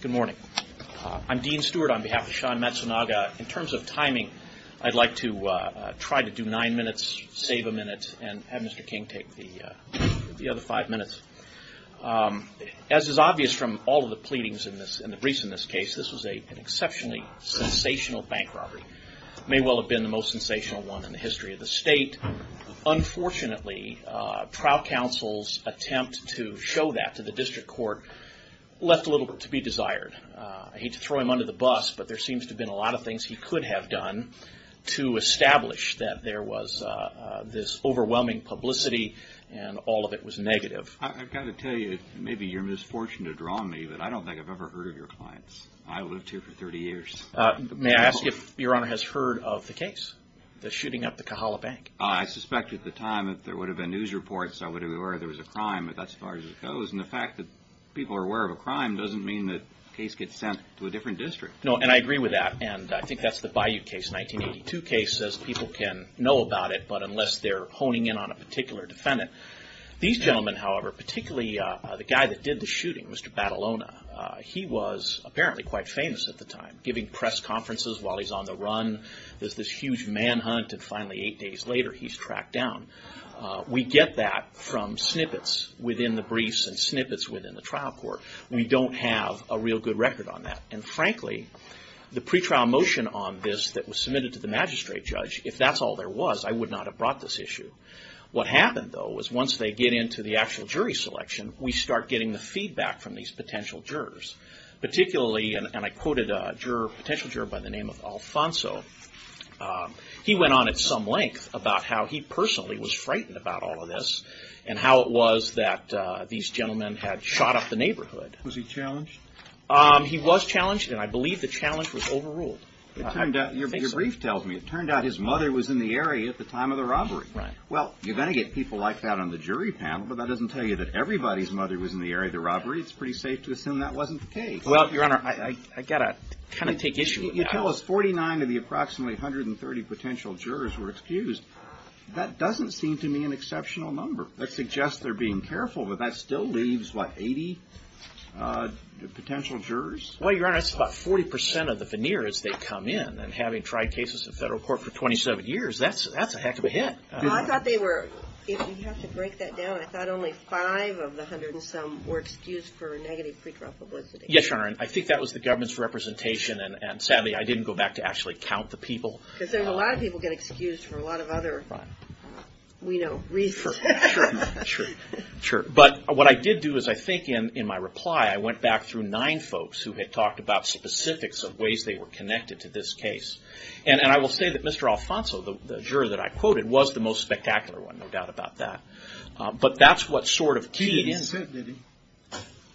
Good morning. I'm Dean Stewart on behalf of Sean Matsunaga. In terms of timing, I'd like to try to do nine minutes, save a minute, and have Mr. King take the other five minutes. As is obvious from all of the pleadings and the briefs in this case, this was an exceptionally sensational bank robbery. It may well have been the most sensational one in the history of the state. Unfortunately, trial counsel's attempt to show that to the district court left a little bit to be desired. I hate to throw him under the bus, but there seems to have been a lot of things he could have done to establish that there was this overwhelming publicity and all of it was negative. I've got to tell you, it may be your misfortune to draw me, but I don't think I've ever heard of your clients. I lived here for 30 years. May I ask if Your Honor has heard of the case, the shooting up the Kahala Bank? I suspect at the time that there would have been news reports that there was a crime, but that's as far as it goes. And the fact that people are aware of a crime doesn't mean that the case gets sent to a different district. No, and I agree with that, and I think that's the Bayou case, 1982 case, as people can know about it, but unless they're honing in on a particular defendant. These gentlemen, however, particularly the guy that did the shooting, Mr. Batalona, he was apparently quite famous at the time, giving press conferences while he's on the run. There's this huge manhunt, and finally eight days later, he's tracked down. We get that from snippets within the briefs and snippets within the trial court. We don't have a real good record on that, and frankly, the pretrial motion on this that was submitted to the magistrate judge, if that's all there was, I would not have brought this issue. What happened, though, was once they get into the actual jury selection, we start getting the feedback from these potential jurors, particularly, and I quoted a potential juror by the name of Alfonso. He went on at some length about how he personally was frightened about all of this, and how it was that these gentlemen had shot up the neighborhood. Was he challenged? He was challenged, and I believe the challenge was overruled. Your brief tells me it turned out his mother was in the area at the time of the robbery. Right. Well, you're going to get people like that on the jury panel, but that doesn't tell you that everybody's mother was in the area of the robbery. It's pretty safe to assume that wasn't the case. Well, Your Honor, I've got to kind of take issue with that. You tell us 49 of the approximately 130 potential jurors were excused. That doesn't seem to me an exceptional number. That suggests they're being careful, but that still leaves, what, 80 potential jurors? Well, Your Honor, that's about 40% of the veneers that come in, and having tried cases in federal court for 27 years, that's a heck of a hit. I thought they were, if you have to break that down, I thought only 5 of the 100 and some were excused for negative pre-trial publicity. Yes, Your Honor, and I think that was the government's representation, and sadly, I didn't go back to actually count the people. Because there's a lot of people get excused for a lot of other, you know, reasons. Sure, but what I did do is I think in my reply, I went back through 9 folks who had talked about specifics of ways they were connected to this case. And I will say that Mr. Alfonso, the juror that I quoted, was the most spectacular one, no doubt about that. But that's what sort of keys... He didn't sit, did he?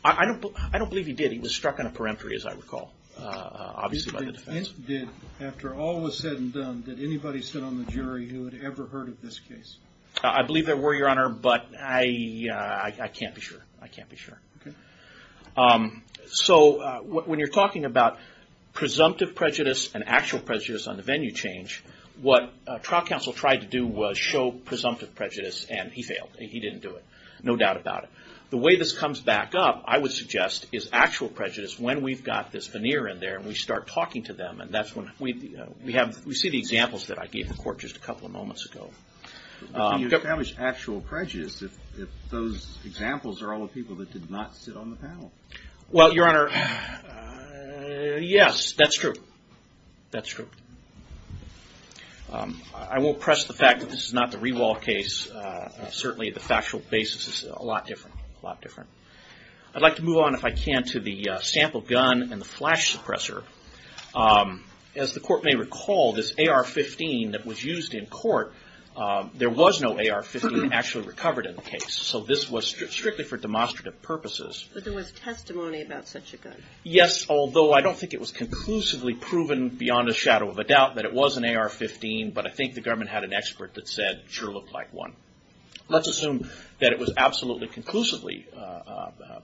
I don't believe he did. He was struck on a peremptory, as I recall. Obviously by the defense. After all was said and done, did anybody sit on the jury who had ever heard of this case? I believe there were, Your Honor, but I can't be sure. I can't be sure. So when you're talking about presumptive prejudice and actual prejudice on the venue change, what trial counsel tried to do was show presumptive prejudice, and he failed. He didn't do it, no doubt about it. The way this comes back up, I would suggest, is actual prejudice when we've got this veneer in there, and we start talking to them, and that's when we see the examples that I gave the court just a couple of moments ago. But can you establish actual prejudice if those examples are all the people that did not sit on the panel? Well, Your Honor, yes, that's true. That's true. I won't press the fact that this is not the Rewall case. Certainly the factual basis is a lot different, a lot different. I'd like to move on, if I can, to the sample gun and the flash suppressor. As the court may recall, this AR-15 that was used in court, there was no AR-15 actually recovered in the case. So this was strictly for demonstrative purposes. But there was testimony about such a gun. Yes, although I don't think it was conclusively proven beyond a shadow of a doubt that it was an AR-15, but I think the government had an expert that said it sure looked like one. Let's assume that it was absolutely conclusively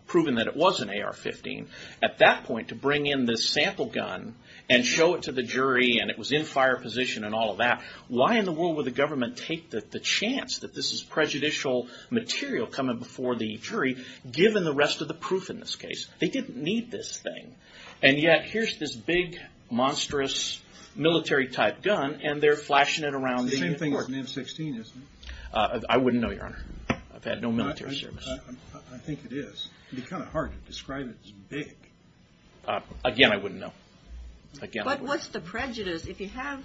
proven that it was an AR-15. At that point, to bring in this sample gun and show it to the jury and it was in fire position and all of that, why in the world would the government take the chance that this is prejudicial material coming before the jury, given the rest of the proof in this case? They didn't need this thing. And yet here's this big, monstrous military-type gun, and they're flashing it around the court. It's the same thing as an M-16, isn't it? I wouldn't know, Your Honor. I've had no military service. I think it is. It would be kind of hard to describe it as big. Again, I wouldn't know. But what's the prejudice? I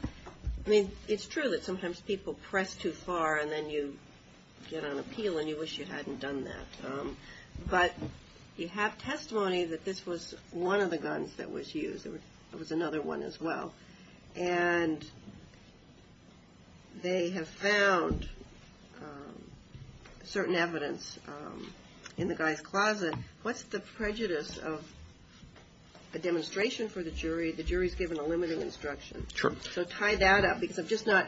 mean, it's true that sometimes people press too far and then you get on a peel and you wish you hadn't done that. But you have testimony that this was one of the guns that was used. There was another one as well. And they have found certain evidence in the guy's closet. What's the prejudice of a demonstration for the jury? The jury's given a limiting instruction. Sure. So tie that up because I'm just not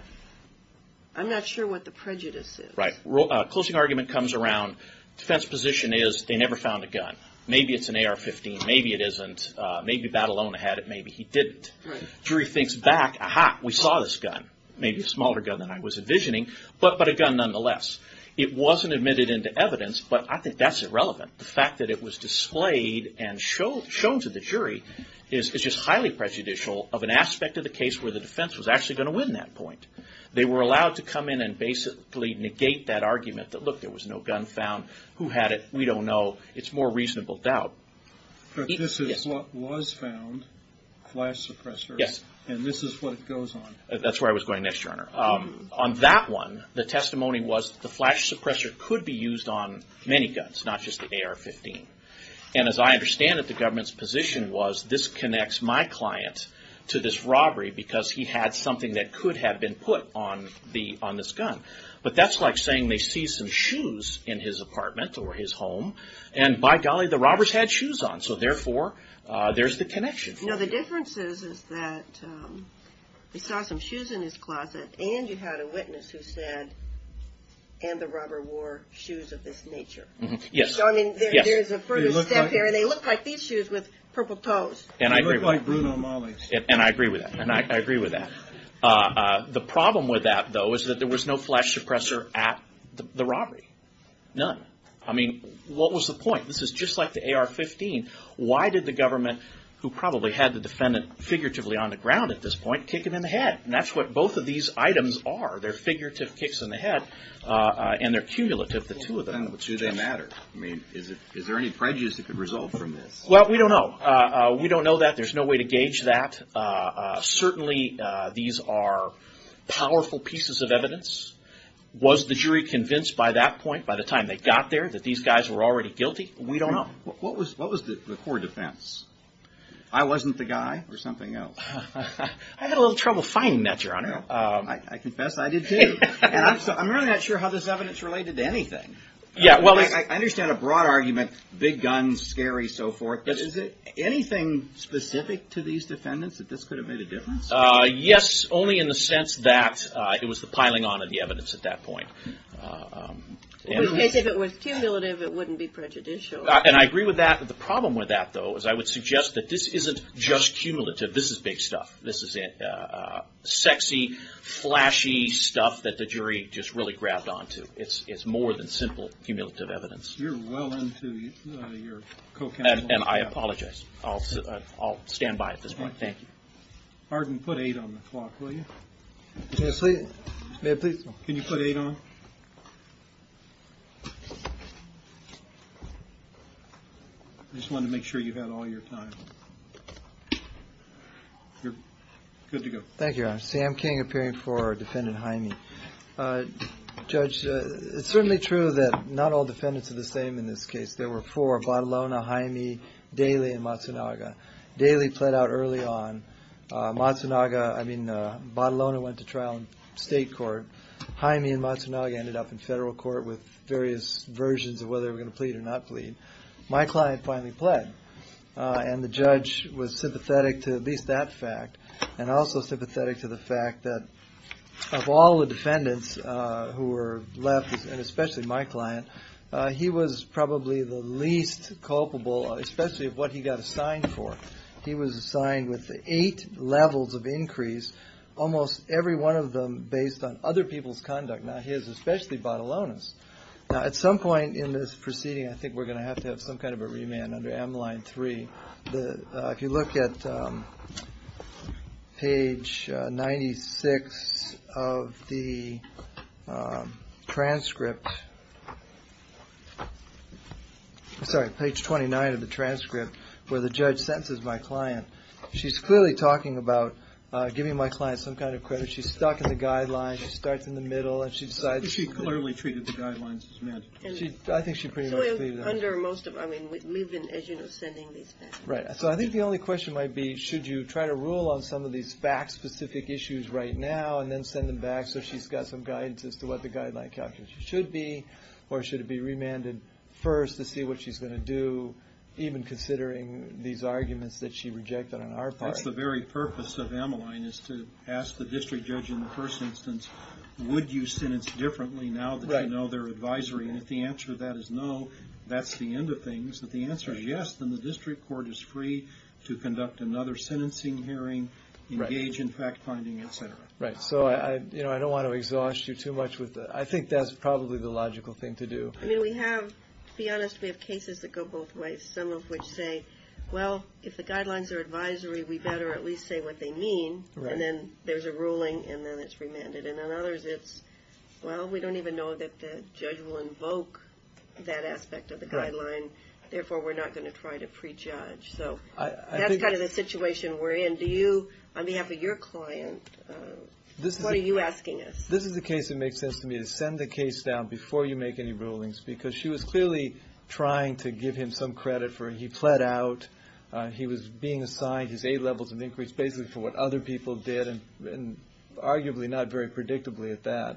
– I'm not sure what the prejudice is. Right. Closing argument comes around defense position is they never found a gun. Maybe it's an AR-15. Maybe it isn't. Maybe Badalona had it. Maybe he didn't. Jury thinks back, ah-ha, we saw this gun. Maybe a smaller gun than I was envisioning, but a gun nonetheless. It wasn't admitted into evidence, but I think that's irrelevant. The fact that it was displayed and shown to the jury is just highly prejudicial of an aspect of the case where the defense was actually going to win that point. They were allowed to come in and basically negate that argument that, look, there was no gun found. Who had it? We don't know. It's more reasonable doubt. But this is what was found, flash suppressor. Yes. And this is what goes on. That's where I was going next, Your Honor. On that one, the testimony was the flash suppressor could be used on many guns, not just the AR-15. And as I understand it, the government's position was this connects my client to this robbery because he had something that could have been put on this gun. But that's like saying they seized some shoes in his apartment or his home and, by golly, the robbers had shoes on. So, therefore, there's the connection. No, the difference is that we saw some shoes in his closet and you had a witness who said, and the robber wore shoes of this nature. Yes. So, I mean, there's a further step here. And they looked like these shoes with purple toes. They looked like Bruno Mali's. And I agree with that. And I agree with that. The problem with that, though, is that there was no flash suppressor at the robbery. None. I mean, what was the point? This is just like the AR-15. Why did the government, who probably had the defendant figuratively on the ground at this point, kick him in the head? And that's what both of these items are. They're figurative kicks in the head and they're cumulative, the two of them. Well, then, do they matter? I mean, is there any prejudice that could result from this? Well, we don't know. We don't know that. There's no way to gauge that. Certainly, these are powerful pieces of evidence. Was the jury convinced by that point, by the time they got there, that these guys were already guilty? We don't know. What was the core defense? I wasn't the guy or something else? I had a little trouble finding that, Your Honor. I confess I did, too. And I'm really not sure how this evidence related to anything. I understand a broad argument, big guns, scary, so forth. Is there anything specific to these defendants that this could have made a difference? Yes, only in the sense that it was the piling on of the evidence at that point. If it was cumulative, it wouldn't be prejudicial. And I agree with that. The problem with that, though, is I would suggest that this isn't just cumulative. This is big stuff. This is sexy, flashy stuff that the jury just really grabbed onto. It's more than simple cumulative evidence. You're well into your co-counseling. And I apologize. I'll stand by at this point. Thank you. Harden, put 8 on the clock, will you? May I please? Can you put 8 on? I just wanted to make sure you had all your time. You're good to go. Thank you, Your Honor. Sam King, appearing for Defendant Hymie. Judge, it's certainly true that not all defendants are the same in this case. There were four, Batalona, Hymie, Daly, and Matsunaga. Daly pled out early on. Matsunaga, I mean, Batalona went to trial in state court. Hymie and Matsunaga ended up in federal court with various versions of whether they were going to plead or not plead. My client finally pled. And the judge was sympathetic to at least that fact and also sympathetic to the fact that of all the defendants who were left, and especially my client, he was probably the least culpable, especially of what he got assigned for. He was assigned with eight levels of increase, almost every one of them based on other people's conduct, not his, especially Batalona's. Now, at some point in this proceeding, I think we're going to have to have some kind of a remand under M-line 3. If you look at page 96 of the transcript, sorry, page 29 of the transcript, where the judge sentences my client, she's clearly talking about giving my client some kind of credit. She's stuck in the guidelines. She starts in the middle, and she decides. She clearly treated the guidelines as mandatory. I think she pretty much cleared that. We've been, as you know, sending these back. Right. So I think the only question might be, should you try to rule on some of these fact-specific issues right now and then send them back so she's got some guidance as to what the guideline calculation should be, or should it be remanded first to see what she's going to do, even considering these arguments that she rejected on our part? That's the very purpose of M-line, is to ask the district judge in the first instance, would you sentence differently now that you know their advisory? And if the answer to that is no, that's the end of things. If the answer is yes, then the district court is free to conduct another sentencing hearing, engage in fact-finding, et cetera. Right. So I don't want to exhaust you too much with that. I think that's probably the logical thing to do. I mean, we have, to be honest, we have cases that go both ways, some of which say, well, if the guidelines are advisory, we better at least say what they mean. Right. And then there's a ruling, and then it's remanded. And then others it's, well, we don't even know that the judge will invoke that aspect of the guideline, therefore we're not going to try to prejudge. So that's kind of the situation we're in. Do you, on behalf of your client, what are you asking us? This is the case that makes sense to me, to send the case down before you make any rulings, because she was clearly trying to give him some credit for he pled out, he was being assigned, his A-levels had increased basically for what other people did, and arguably not very predictably at that.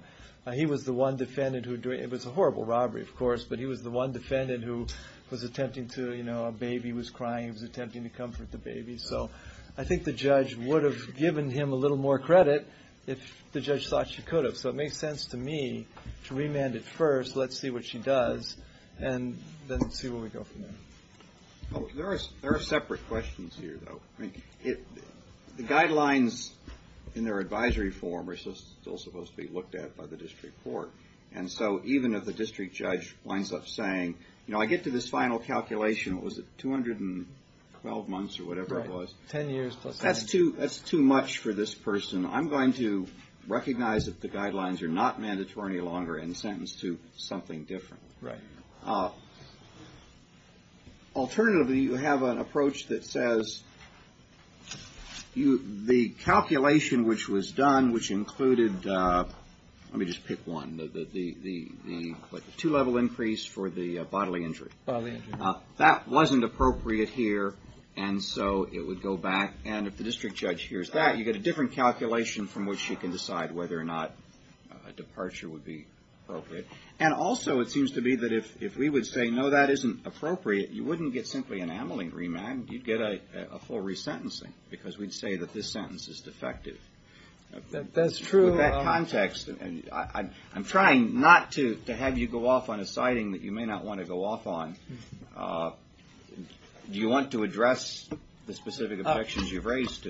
He was the one defendant who, it was a horrible robbery, of course, but he was the one defendant who was attempting to, you know, a baby was crying, he was attempting to comfort the baby. So I think the judge would have given him a little more credit if the judge thought she could have. So it makes sense to me to remand it first, let's see what she does, and then see where we go from there. There are separate questions here, though. The guidelines in their advisory form are still supposed to be looked at by the district court, and so even if the district judge winds up saying, you know, I get to this final calculation, what was it, 212 months or whatever it was? Right, 10 years plus. That's too much for this person. I'm going to recognize that the guidelines are not mandatory any longer and sentence to something different. Right. Alternatively, you have an approach that says the calculation which was done, which included, let me just pick one, the two-level increase for the bodily injury. Bodily injury. That wasn't appropriate here, and so it would go back, and if the district judge hears that, you get a different calculation from which you can decide whether or not a departure would be appropriate. And also it seems to me that if we would say, no, that isn't appropriate, you wouldn't get simply an amyling remand. You'd get a full resentencing because we'd say that this sentence is defective. That's true. With that context, I'm trying not to have you go off on a citing that you may not want to go off on. Do you want to address the specific objections you've raised?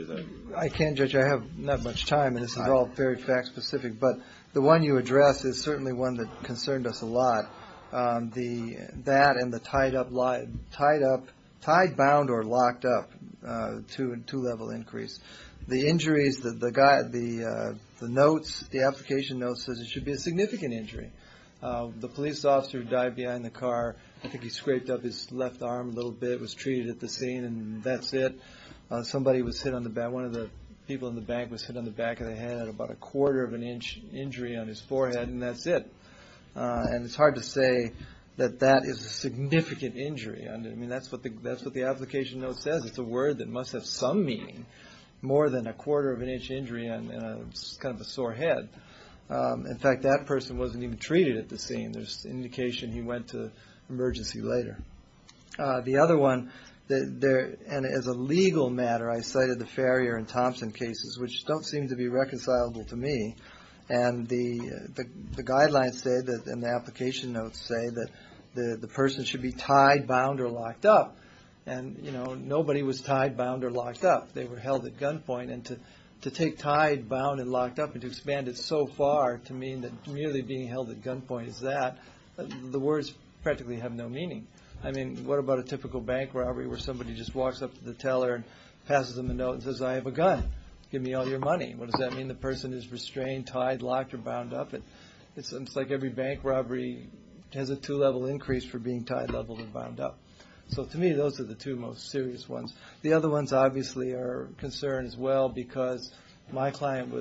I can, Judge. I have not much time, and this is all very fact-specific, but the one you address is certainly one that concerned us a lot. That and the tied-bound or locked-up two-level increase. The application note says it should be a significant injury. The police officer who died behind the car, I think he scraped up his left arm a little bit, was treated at the scene, and that's it. One of the people in the back was hit on the back of the head, about a quarter of an inch injury on his forehead, and that's it. And it's hard to say that that is a significant injury. I mean, that's what the application note says. It's a word that must have some meaning, more than a quarter of an inch injury on kind of a sore head. In fact, that person wasn't even treated at the scene. There's indication he went to emergency later. The other one, and as a legal matter, I cited the Farrier and Thompson cases, which don't seem to be reconcilable to me. And the guidelines say, and the application notes say, that the person should be tied-bound or locked-up. And, you know, nobody was tied-bound or locked-up. They were held at gunpoint, and to take tied-bound and locked-up, and to expand it so far to mean that merely being held at gunpoint is that, the words practically have no meaning. I mean, what about a typical bank robbery where somebody just walks up to the teller and passes them a note and says, I have a gun. Give me all your money. What does that mean? The person is restrained, tied, locked, or bound up. It's like every bank robbery has a two-level increase for being tied-level and bound-up. So to me, those are the two most serious ones. The other ones, obviously, are a concern as well, because my client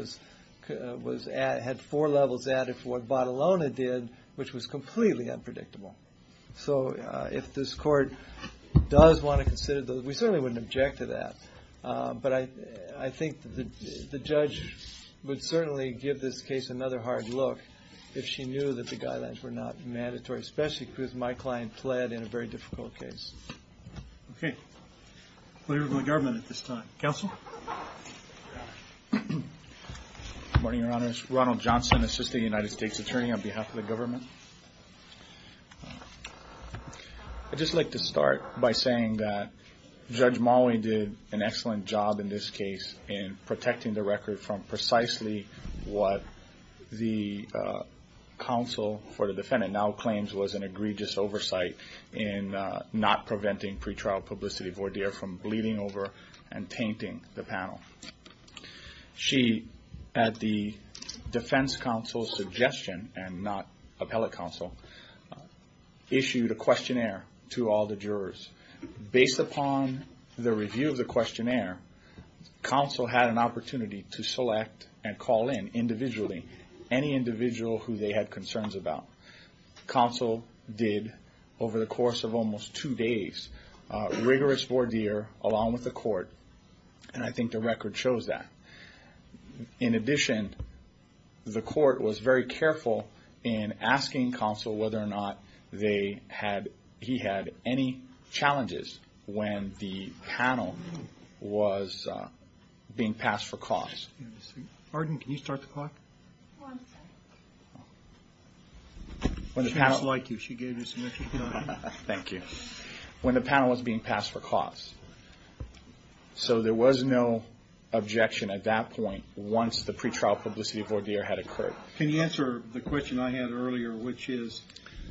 had four levels added for what Bottolone did, which was completely unpredictable. So if this court does want to consider those, we certainly wouldn't object to that. But I think the judge would certainly give this case another hard look if she knew that the guidelines were not mandatory, especially because my client fled in a very difficult case. Okay. Clerk of the government at this time. Good morning, Your Honors. Ronald Johnson, Assistant United States Attorney on behalf of the government. I'd just like to start by saying that Judge Molloy did an excellent job in this case in protecting the record from precisely what the counsel for the defendant now claims was an egregious oversight in not preventing pretrial publicity voir dire from bleeding over and tainting the panel. She, at the defense counsel's suggestion, and not appellate counsel, issued a questionnaire to all the jurors. Based upon the review of the questionnaire, counsel had an opportunity to select and call in individually any individual who they had concerns about. Counsel did, over the course of almost two days, rigorous voir dire along with the court, and I think the record shows that. In addition, the court was very careful in asking counsel whether or not he had any challenges when the panel was being passed for cause. Arden, can you start the clock? One second. She was like you. She gave you some extra time. Thank you. When the panel was being passed for cause, so there was no objection at that point once the pretrial publicity voir dire had occurred. Can you answer the question I had earlier, which is,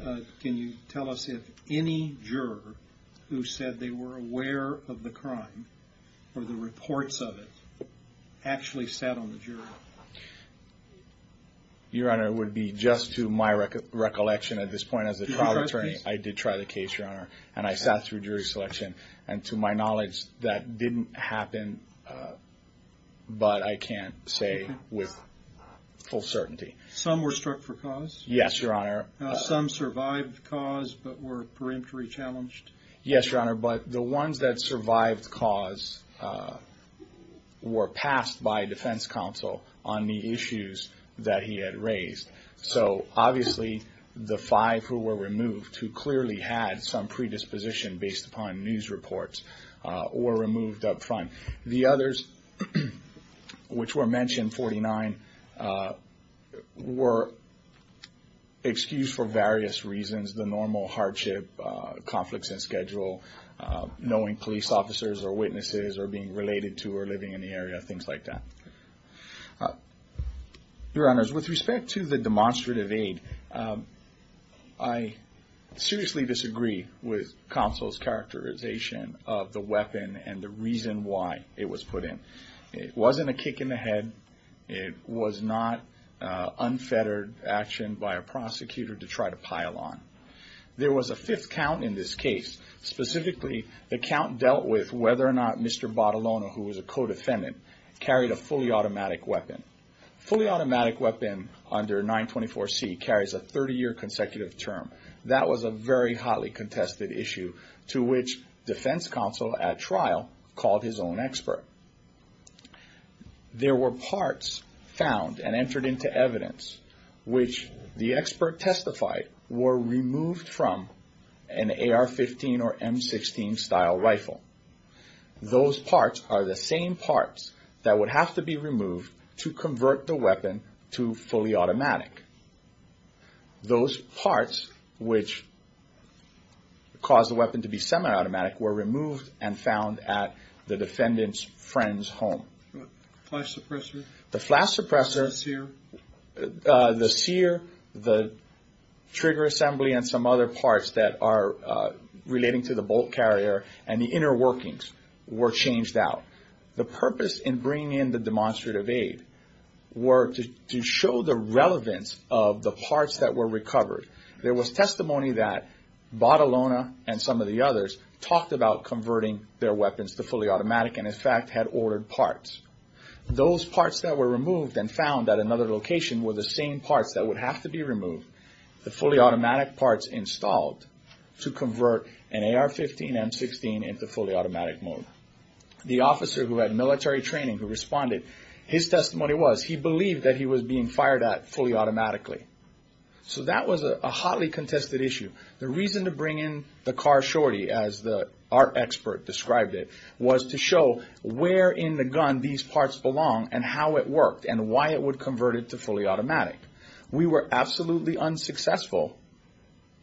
can you tell us if any juror who said they were aware of the crime or the reports of it actually sat on the jury? Your Honor, it would be just to my recollection at this point as a trial attorney. Did you try the case? I did try the case, Your Honor, and I sat through jury selection. To my knowledge, that didn't happen, but I can say with full certainty. Some were struck for cause? Yes, Your Honor. Some survived cause but were perimetry challenged? Yes, Your Honor, but the ones that survived cause were passed by defense counsel on the issues that he had raised. So obviously the five who were removed, who clearly had some predisposition based upon news reports, were removed up front. The others which were mentioned, 49, were excused for various reasons, the normal hardship, conflicts in schedule, knowing police officers or witnesses or being related to or living in the area, things like that. Your Honor, with respect to the demonstrative aid, I seriously disagree with counsel's characterization of the weapon and the reason why it was put in. It wasn't a kick in the head. It was not unfettered action by a prosecutor to try to pile on. There was a fifth count in this case. Specifically, the count dealt with whether or not Mr. Badalona, who was a co-defendant, carried a fully automatic weapon. A fully automatic weapon under 924C carries a 30-year consecutive term. That was a very hotly contested issue to which defense counsel at trial called his own expert. There were parts found and entered into evidence which the expert testified were removed from an AR-15 or M-16 style rifle. Those parts are the same parts that would have to be removed to convert the weapon to fully automatic. Those parts which caused the weapon to be semi-automatic were removed and found at the defendant's friend's home. Flash suppressor? The flash suppressor. The sear? The sear, the trigger assembly, and some other parts that are relating to the bolt carrier and the inner workings were changed out. The purpose in bringing in the demonstrative aid were to show the relevance of the parts that were recovered. There was testimony that Badalona and some of the others talked about converting their weapons to fully automatic and, in fact, had ordered parts. Those parts that were removed and found at another location were the same parts that would have to be removed, the fully automatic parts installed to convert an AR-15, M-16 into fully automatic mode. The officer who had military training who responded, his testimony was he believed that he was being fired at fully automatically. So that was a hotly contested issue. The reason to bring in the car shorty, as the art expert described it, was to show where in the gun these parts belong and how it worked and why it would convert it to fully automatic. We were absolutely unsuccessful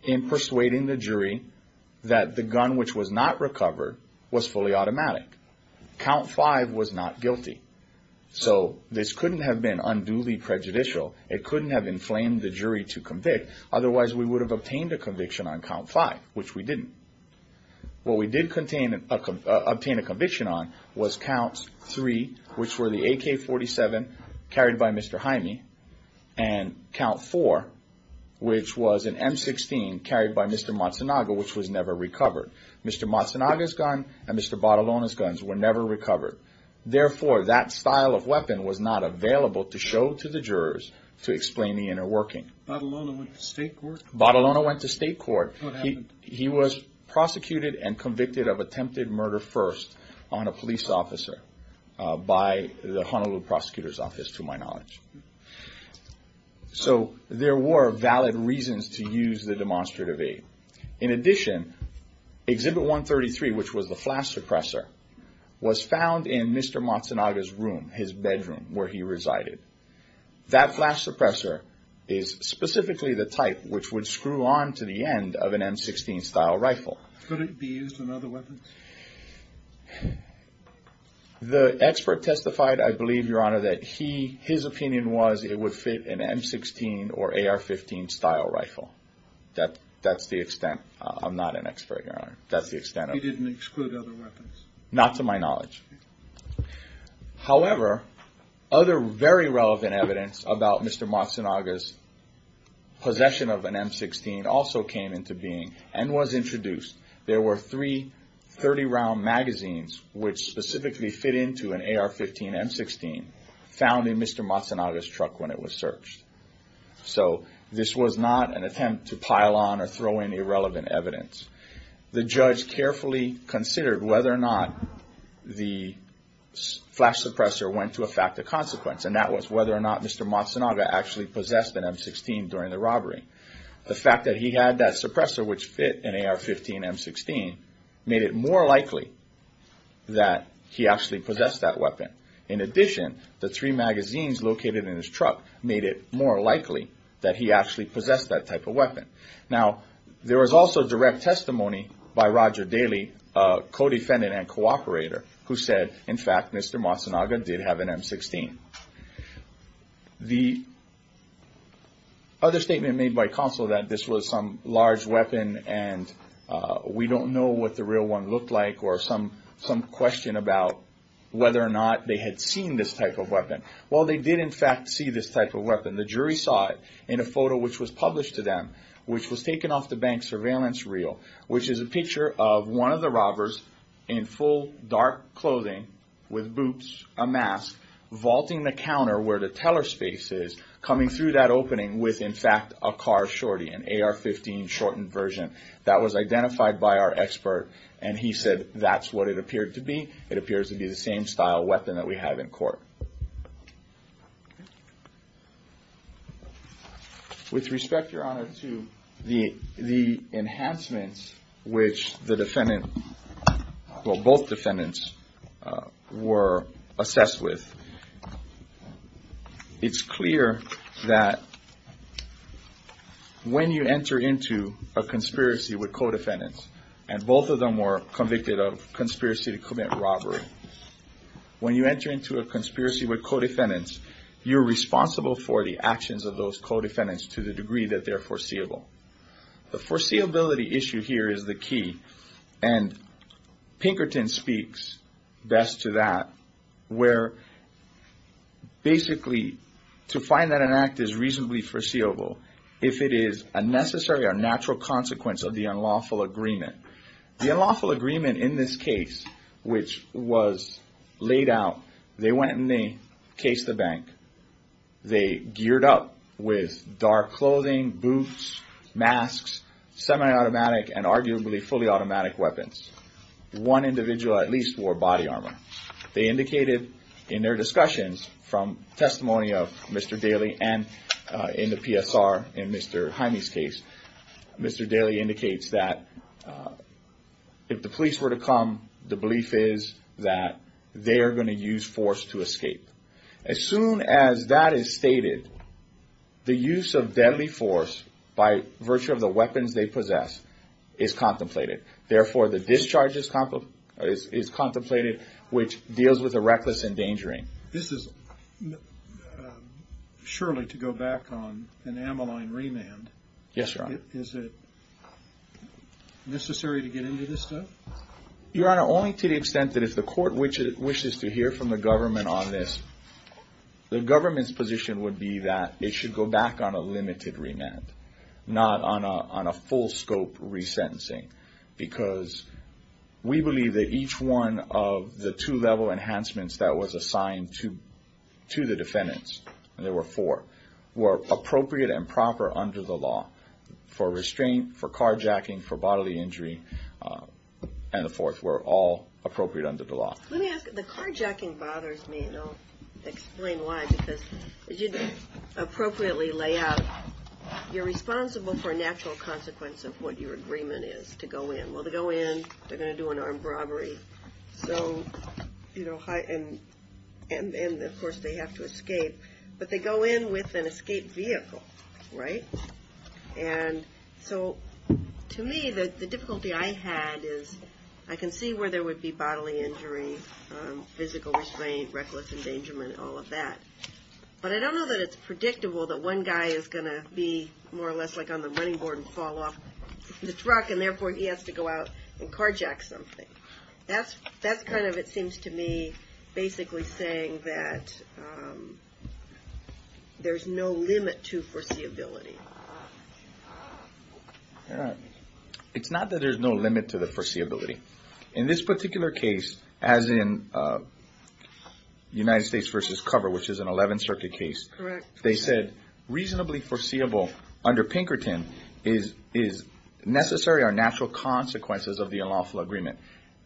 in persuading the jury that the gun which was not recovered was fully automatic. Count 5 was not guilty. So this couldn't have been unduly prejudicial. It couldn't have inflamed the jury to convict. Otherwise, we would have obtained a conviction on Count 5, which we didn't. What we did obtain a conviction on was Count 3, which were the AK-47 carried by Mr. Jaime, and Count 4, which was an M-16 carried by Mr. Matsunaga, which was never recovered. Mr. Matsunaga's gun and Mr. Badalona's guns were never recovered. Therefore, that style of weapon was not available to show to the jurors to explain the inner working. Badalona went to state court? Badalona went to state court. What happened? He was prosecuted and convicted of attempted murder first on a police officer by the Honolulu Prosecutor's Office, to my knowledge. So there were valid reasons to use the demonstrative aid. In addition, Exhibit 133, which was the flash suppressor, was found in Mr. Matsunaga's room, his bedroom, where he resided. That flash suppressor is specifically the type which would screw on to the end of an M-16 style rifle. Could it be used in other weapons? The expert testified, I believe, Your Honor, that his opinion was it would fit an M-16 or AR-15 style rifle. That's the extent. I'm not an expert, Your Honor. He didn't exclude other weapons? Not to my knowledge. However, other very relevant evidence about Mr. Matsunaga's possession of an M-16 also came into being and was introduced. There were three 30-round magazines which specifically fit into an AR-15 M-16 So this was not an attempt to pile on or throw in irrelevant evidence. The judge carefully considered whether or not the flash suppressor went to effect a consequence, and that was whether or not Mr. Matsunaga actually possessed an M-16 during the robbery. The fact that he had that suppressor, which fit an AR-15 M-16, made it more likely that he actually possessed that weapon. In addition, the three magazines located in his truck made it more likely that he actually possessed that type of weapon. Now, there was also direct testimony by Roger Daly, a co-defendant and cooperator, who said, in fact, Mr. Matsunaga did have an M-16. The other statement made by counsel that this was some large weapon and we don't know what the real one looked like or some question about whether or not they had seen this type of weapon. Well, they did, in fact, see this type of weapon. The jury saw it in a photo which was published to them, which was taken off the bank surveillance reel, which is a picture of one of the robbers in full dark clothing with boots, a mask, vaulting the counter where the teller space is, coming through that opening with, in fact, a car shorty, an AR-15 shortened version. That was identified by our expert and he said that's what it appeared to be. It appears to be the same style weapon that we have in court. With respect, Your Honor, to the enhancements which the defendant, well, both defendants were assessed with, it's clear that when you enter into a conspiracy with co-defendants and both of them were convicted of conspiracy to commit robbery, when you enter into a conspiracy with co-defendants, you're responsible for the actions of those co-defendants to the degree that they're foreseeable. The foreseeability issue here is the key and Pinkerton speaks best to that, where basically to find that an act is reasonably foreseeable if it is a necessary or natural consequence of the unlawful agreement. The unlawful agreement in this case, which was laid out, they went and they cased the bank. They geared up with dark clothing, boots, masks, semi-automatic and arguably fully automatic weapons. One individual at least wore body armor. They indicated in their discussions from testimony of Mr. Daly and in the PSR in Mr. Jaime's case, Mr. Daly indicates that if the police were to come, the belief is that they are going to use force to escape. As soon as that is stated, the use of deadly force by virtue of the weapons they possess is contemplated. Therefore, the discharge is contemplated, which deals with a reckless endangering. This is surely to go back on an Ammaline remand. Yes, Your Honor. Is it necessary to get into this stuff? Your Honor, only to the extent that if the court wishes to hear from the government on this, the government's position would be that it should go back on a limited remand, not on a full scope resentencing, because we believe that each one of the two level enhancements that was assigned to the defendants, and there were four, were appropriate and proper under the law for restraint, for carjacking, for bodily injury, and the fourth were all appropriate under the law. Let me ask, the carjacking bothers me, and I'll explain why, because as you appropriately lay out, you're responsible for a natural consequence of what your agreement is to go in. Well, to go in, they're going to do an armed robbery, so, you know, and of course they have to escape, but they go in with an escaped vehicle, right? And so to me, the difficulty I had is I can see where there would be bodily injury, physical restraint, reckless endangerment, all of that, but I don't know that it's predictable that one guy is going to be more or less like on the running board and fall off the truck, and therefore he has to go out and carjack something. That's kind of, it seems to me, basically saying that there's no limit to foreseeability. It's not that there's no limit to the foreseeability. In this particular case, as in United States v. Cover, which is an 11th Circuit case, they said reasonably foreseeable under Pinkerton is necessary are natural consequences of the unlawful agreement.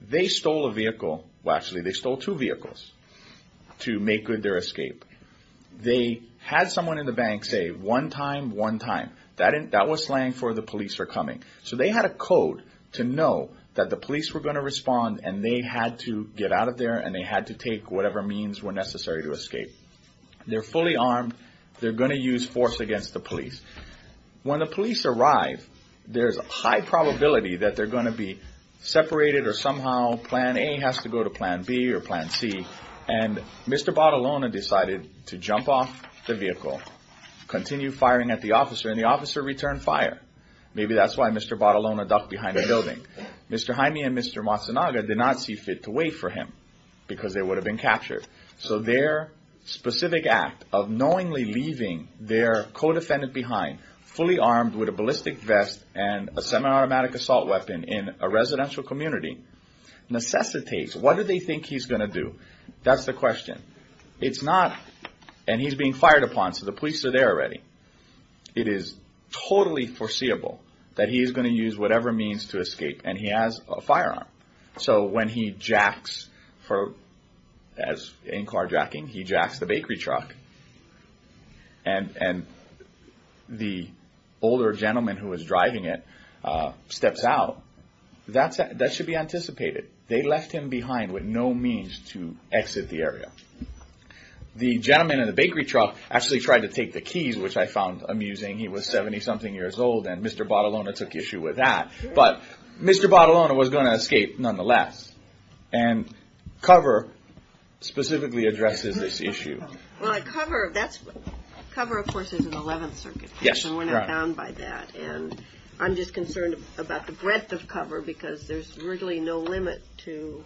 They stole a vehicle, well, actually they stole two vehicles to make good their escape. They had someone in the bank say one time, one time. That was slang for the police are coming. So they had a code to know that the police were going to respond and they had to get out of there and they had to take whatever means were necessary to escape. They're fully armed. They're going to use force against the police. When the police arrive, there's a high probability that they're going to be separated or somehow Plan A has to go to Plan B or Plan C, and Mr. Bottolone decided to jump off the vehicle, continue firing at the officer, and the officer returned fire. Maybe that's why Mr. Bottolone ducked behind the building. Mr. Jaime and Mr. Matsunaga did not see fit to wait for him because they would have been captured. So their specific act of knowingly leaving their co-defendant behind, fully armed with a ballistic vest and a semi-automatic assault weapon in a residential community, necessitates, what do they think he's going to do? That's the question. It's not, and he's being fired upon, so the police are there already. It is totally foreseeable that he is going to use whatever means to escape, and he has a firearm. So when he jacks, as in carjacking, he jacks the bakery truck, and the older gentleman who was driving it steps out, that should be anticipated. They left him behind with no means to exit the area. The gentleman in the bakery truck actually tried to take the keys, which I found amusing. He was 70-something years old, and Mr. Bottolone took issue with that. But Mr. Bottolone was going to escape nonetheless, and COVR specifically addresses this issue. COVR, of course, is an 11th Circuit case, and we're not bound by that. And I'm just concerned about the breadth of COVR because there's really no limit to,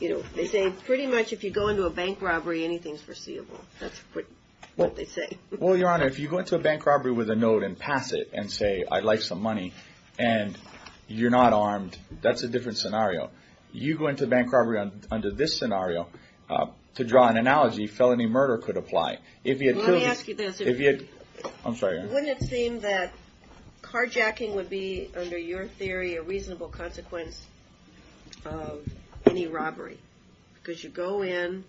you know, they say pretty much if you go into a bank robbery, anything's foreseeable. That's what they say. Well, Your Honor, if you go into a bank robbery with a note and pass it and say, I'd like some money, and you're not armed, that's a different scenario. You go into a bank robbery under this scenario, to draw an analogy, felony murder could apply. Let me ask you this. I'm sorry, Your Honor. Wouldn't it seem that carjacking would be, under your theory, a reasonable consequence of any robbery? Because you go in,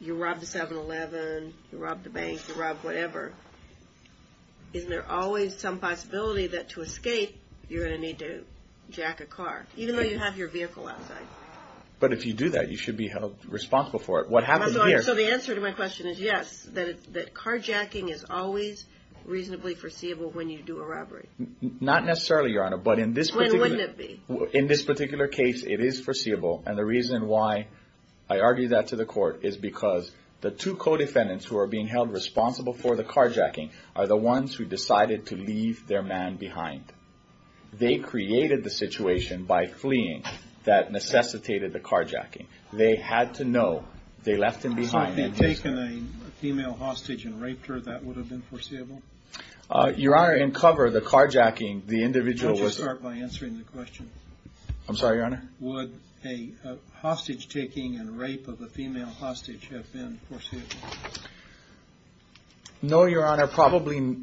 you rob the 7-Eleven, you rob the bank, you rob whatever. Isn't there always some possibility that to escape you're going to need to jack a car, even though you have your vehicle outside? But if you do that, you should be held responsible for it. So the answer to my question is yes, that carjacking is always reasonably foreseeable when you do a robbery. Not necessarily, Your Honor, but in this particular case it is foreseeable, and the reason why I argue that to the court is because the two co-defendants who are being held responsible for the carjacking are the ones who decided to leave their man behind. They created the situation by fleeing that necessitated the carjacking. They had to know they left him behind. So if they had taken a female hostage and raped her, that would have been foreseeable? Your Honor, in cover, the carjacking, the individual was- Why don't you start by answering the question? I'm sorry, Your Honor? Would a hostage-taking and rape of a female hostage have been foreseeable? No, Your Honor, probably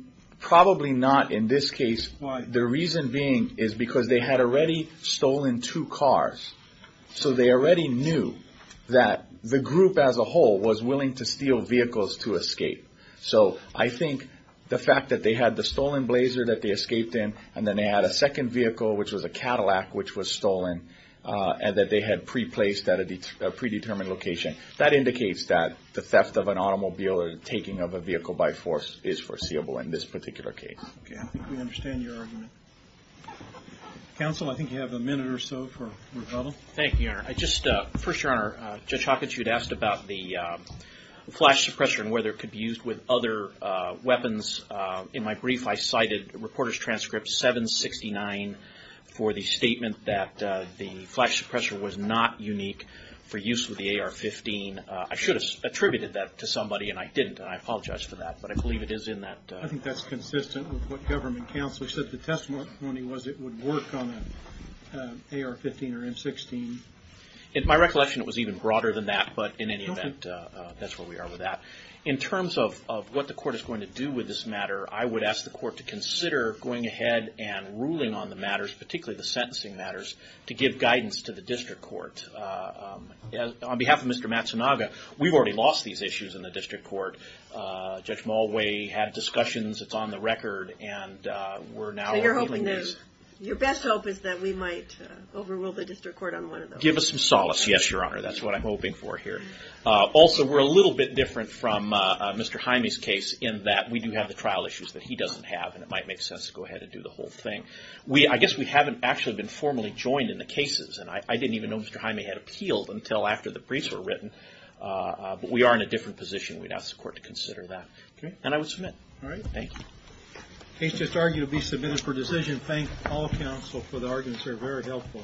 not in this case. Why? The reason being is because they had already stolen two cars, so they already knew that the group as a whole was willing to steal vehicles to escape. So I think the fact that they had the stolen Blazer that they escaped in, and then they had a second vehicle, which was a Cadillac, which was stolen, and that they had preplaced at a predetermined location, that indicates that the theft of an automobile or the taking of a vehicle by force is foreseeable in this particular case. Okay, I think we understand your argument. Counsel, I think you have a minute or so for rebuttal. Thank you, Your Honor. First, Your Honor, Judge Hawkins, you had asked about the flash suppressor and whether it could be used with other weapons. In my brief, I cited Reporter's Transcript 769 for the statement that the flash suppressor was not unique for use with the AR-15. I should have attributed that to somebody, and I didn't, and I apologize for that, but I believe it is in that. I think that's consistent with what government counsel said the testimony was it would work on an AR-15 or M-16. In my recollection, it was even broader than that, but in any event, that's where we are with that. In terms of what the court is going to do with this matter, I would ask the court to consider going ahead and ruling on the matters, particularly the sentencing matters, to give guidance to the district court. On behalf of Mr. Matsunaga, we've already lost these issues in the district court. Judge Mulway had discussions. It's on the record, and we're now at a meeting. So your best hope is that we might overrule the district court on one of those? Give us some solace, yes, Your Honor. That's what I'm hoping for here. Also, we're a little bit different from Mr. Jaime's case in that we do have the trial issues that he doesn't have, and it might make sense to go ahead and do the whole thing. I guess we haven't actually been formally joined in the cases, and I didn't even know Mr. Jaime had appealed until after the briefs were written, but we are in a different position. We'd ask the court to consider that, and I would submit. All right. Thank you. The case just argued to be submitted for decision. Thank all counsel for the arguments. They were very helpful.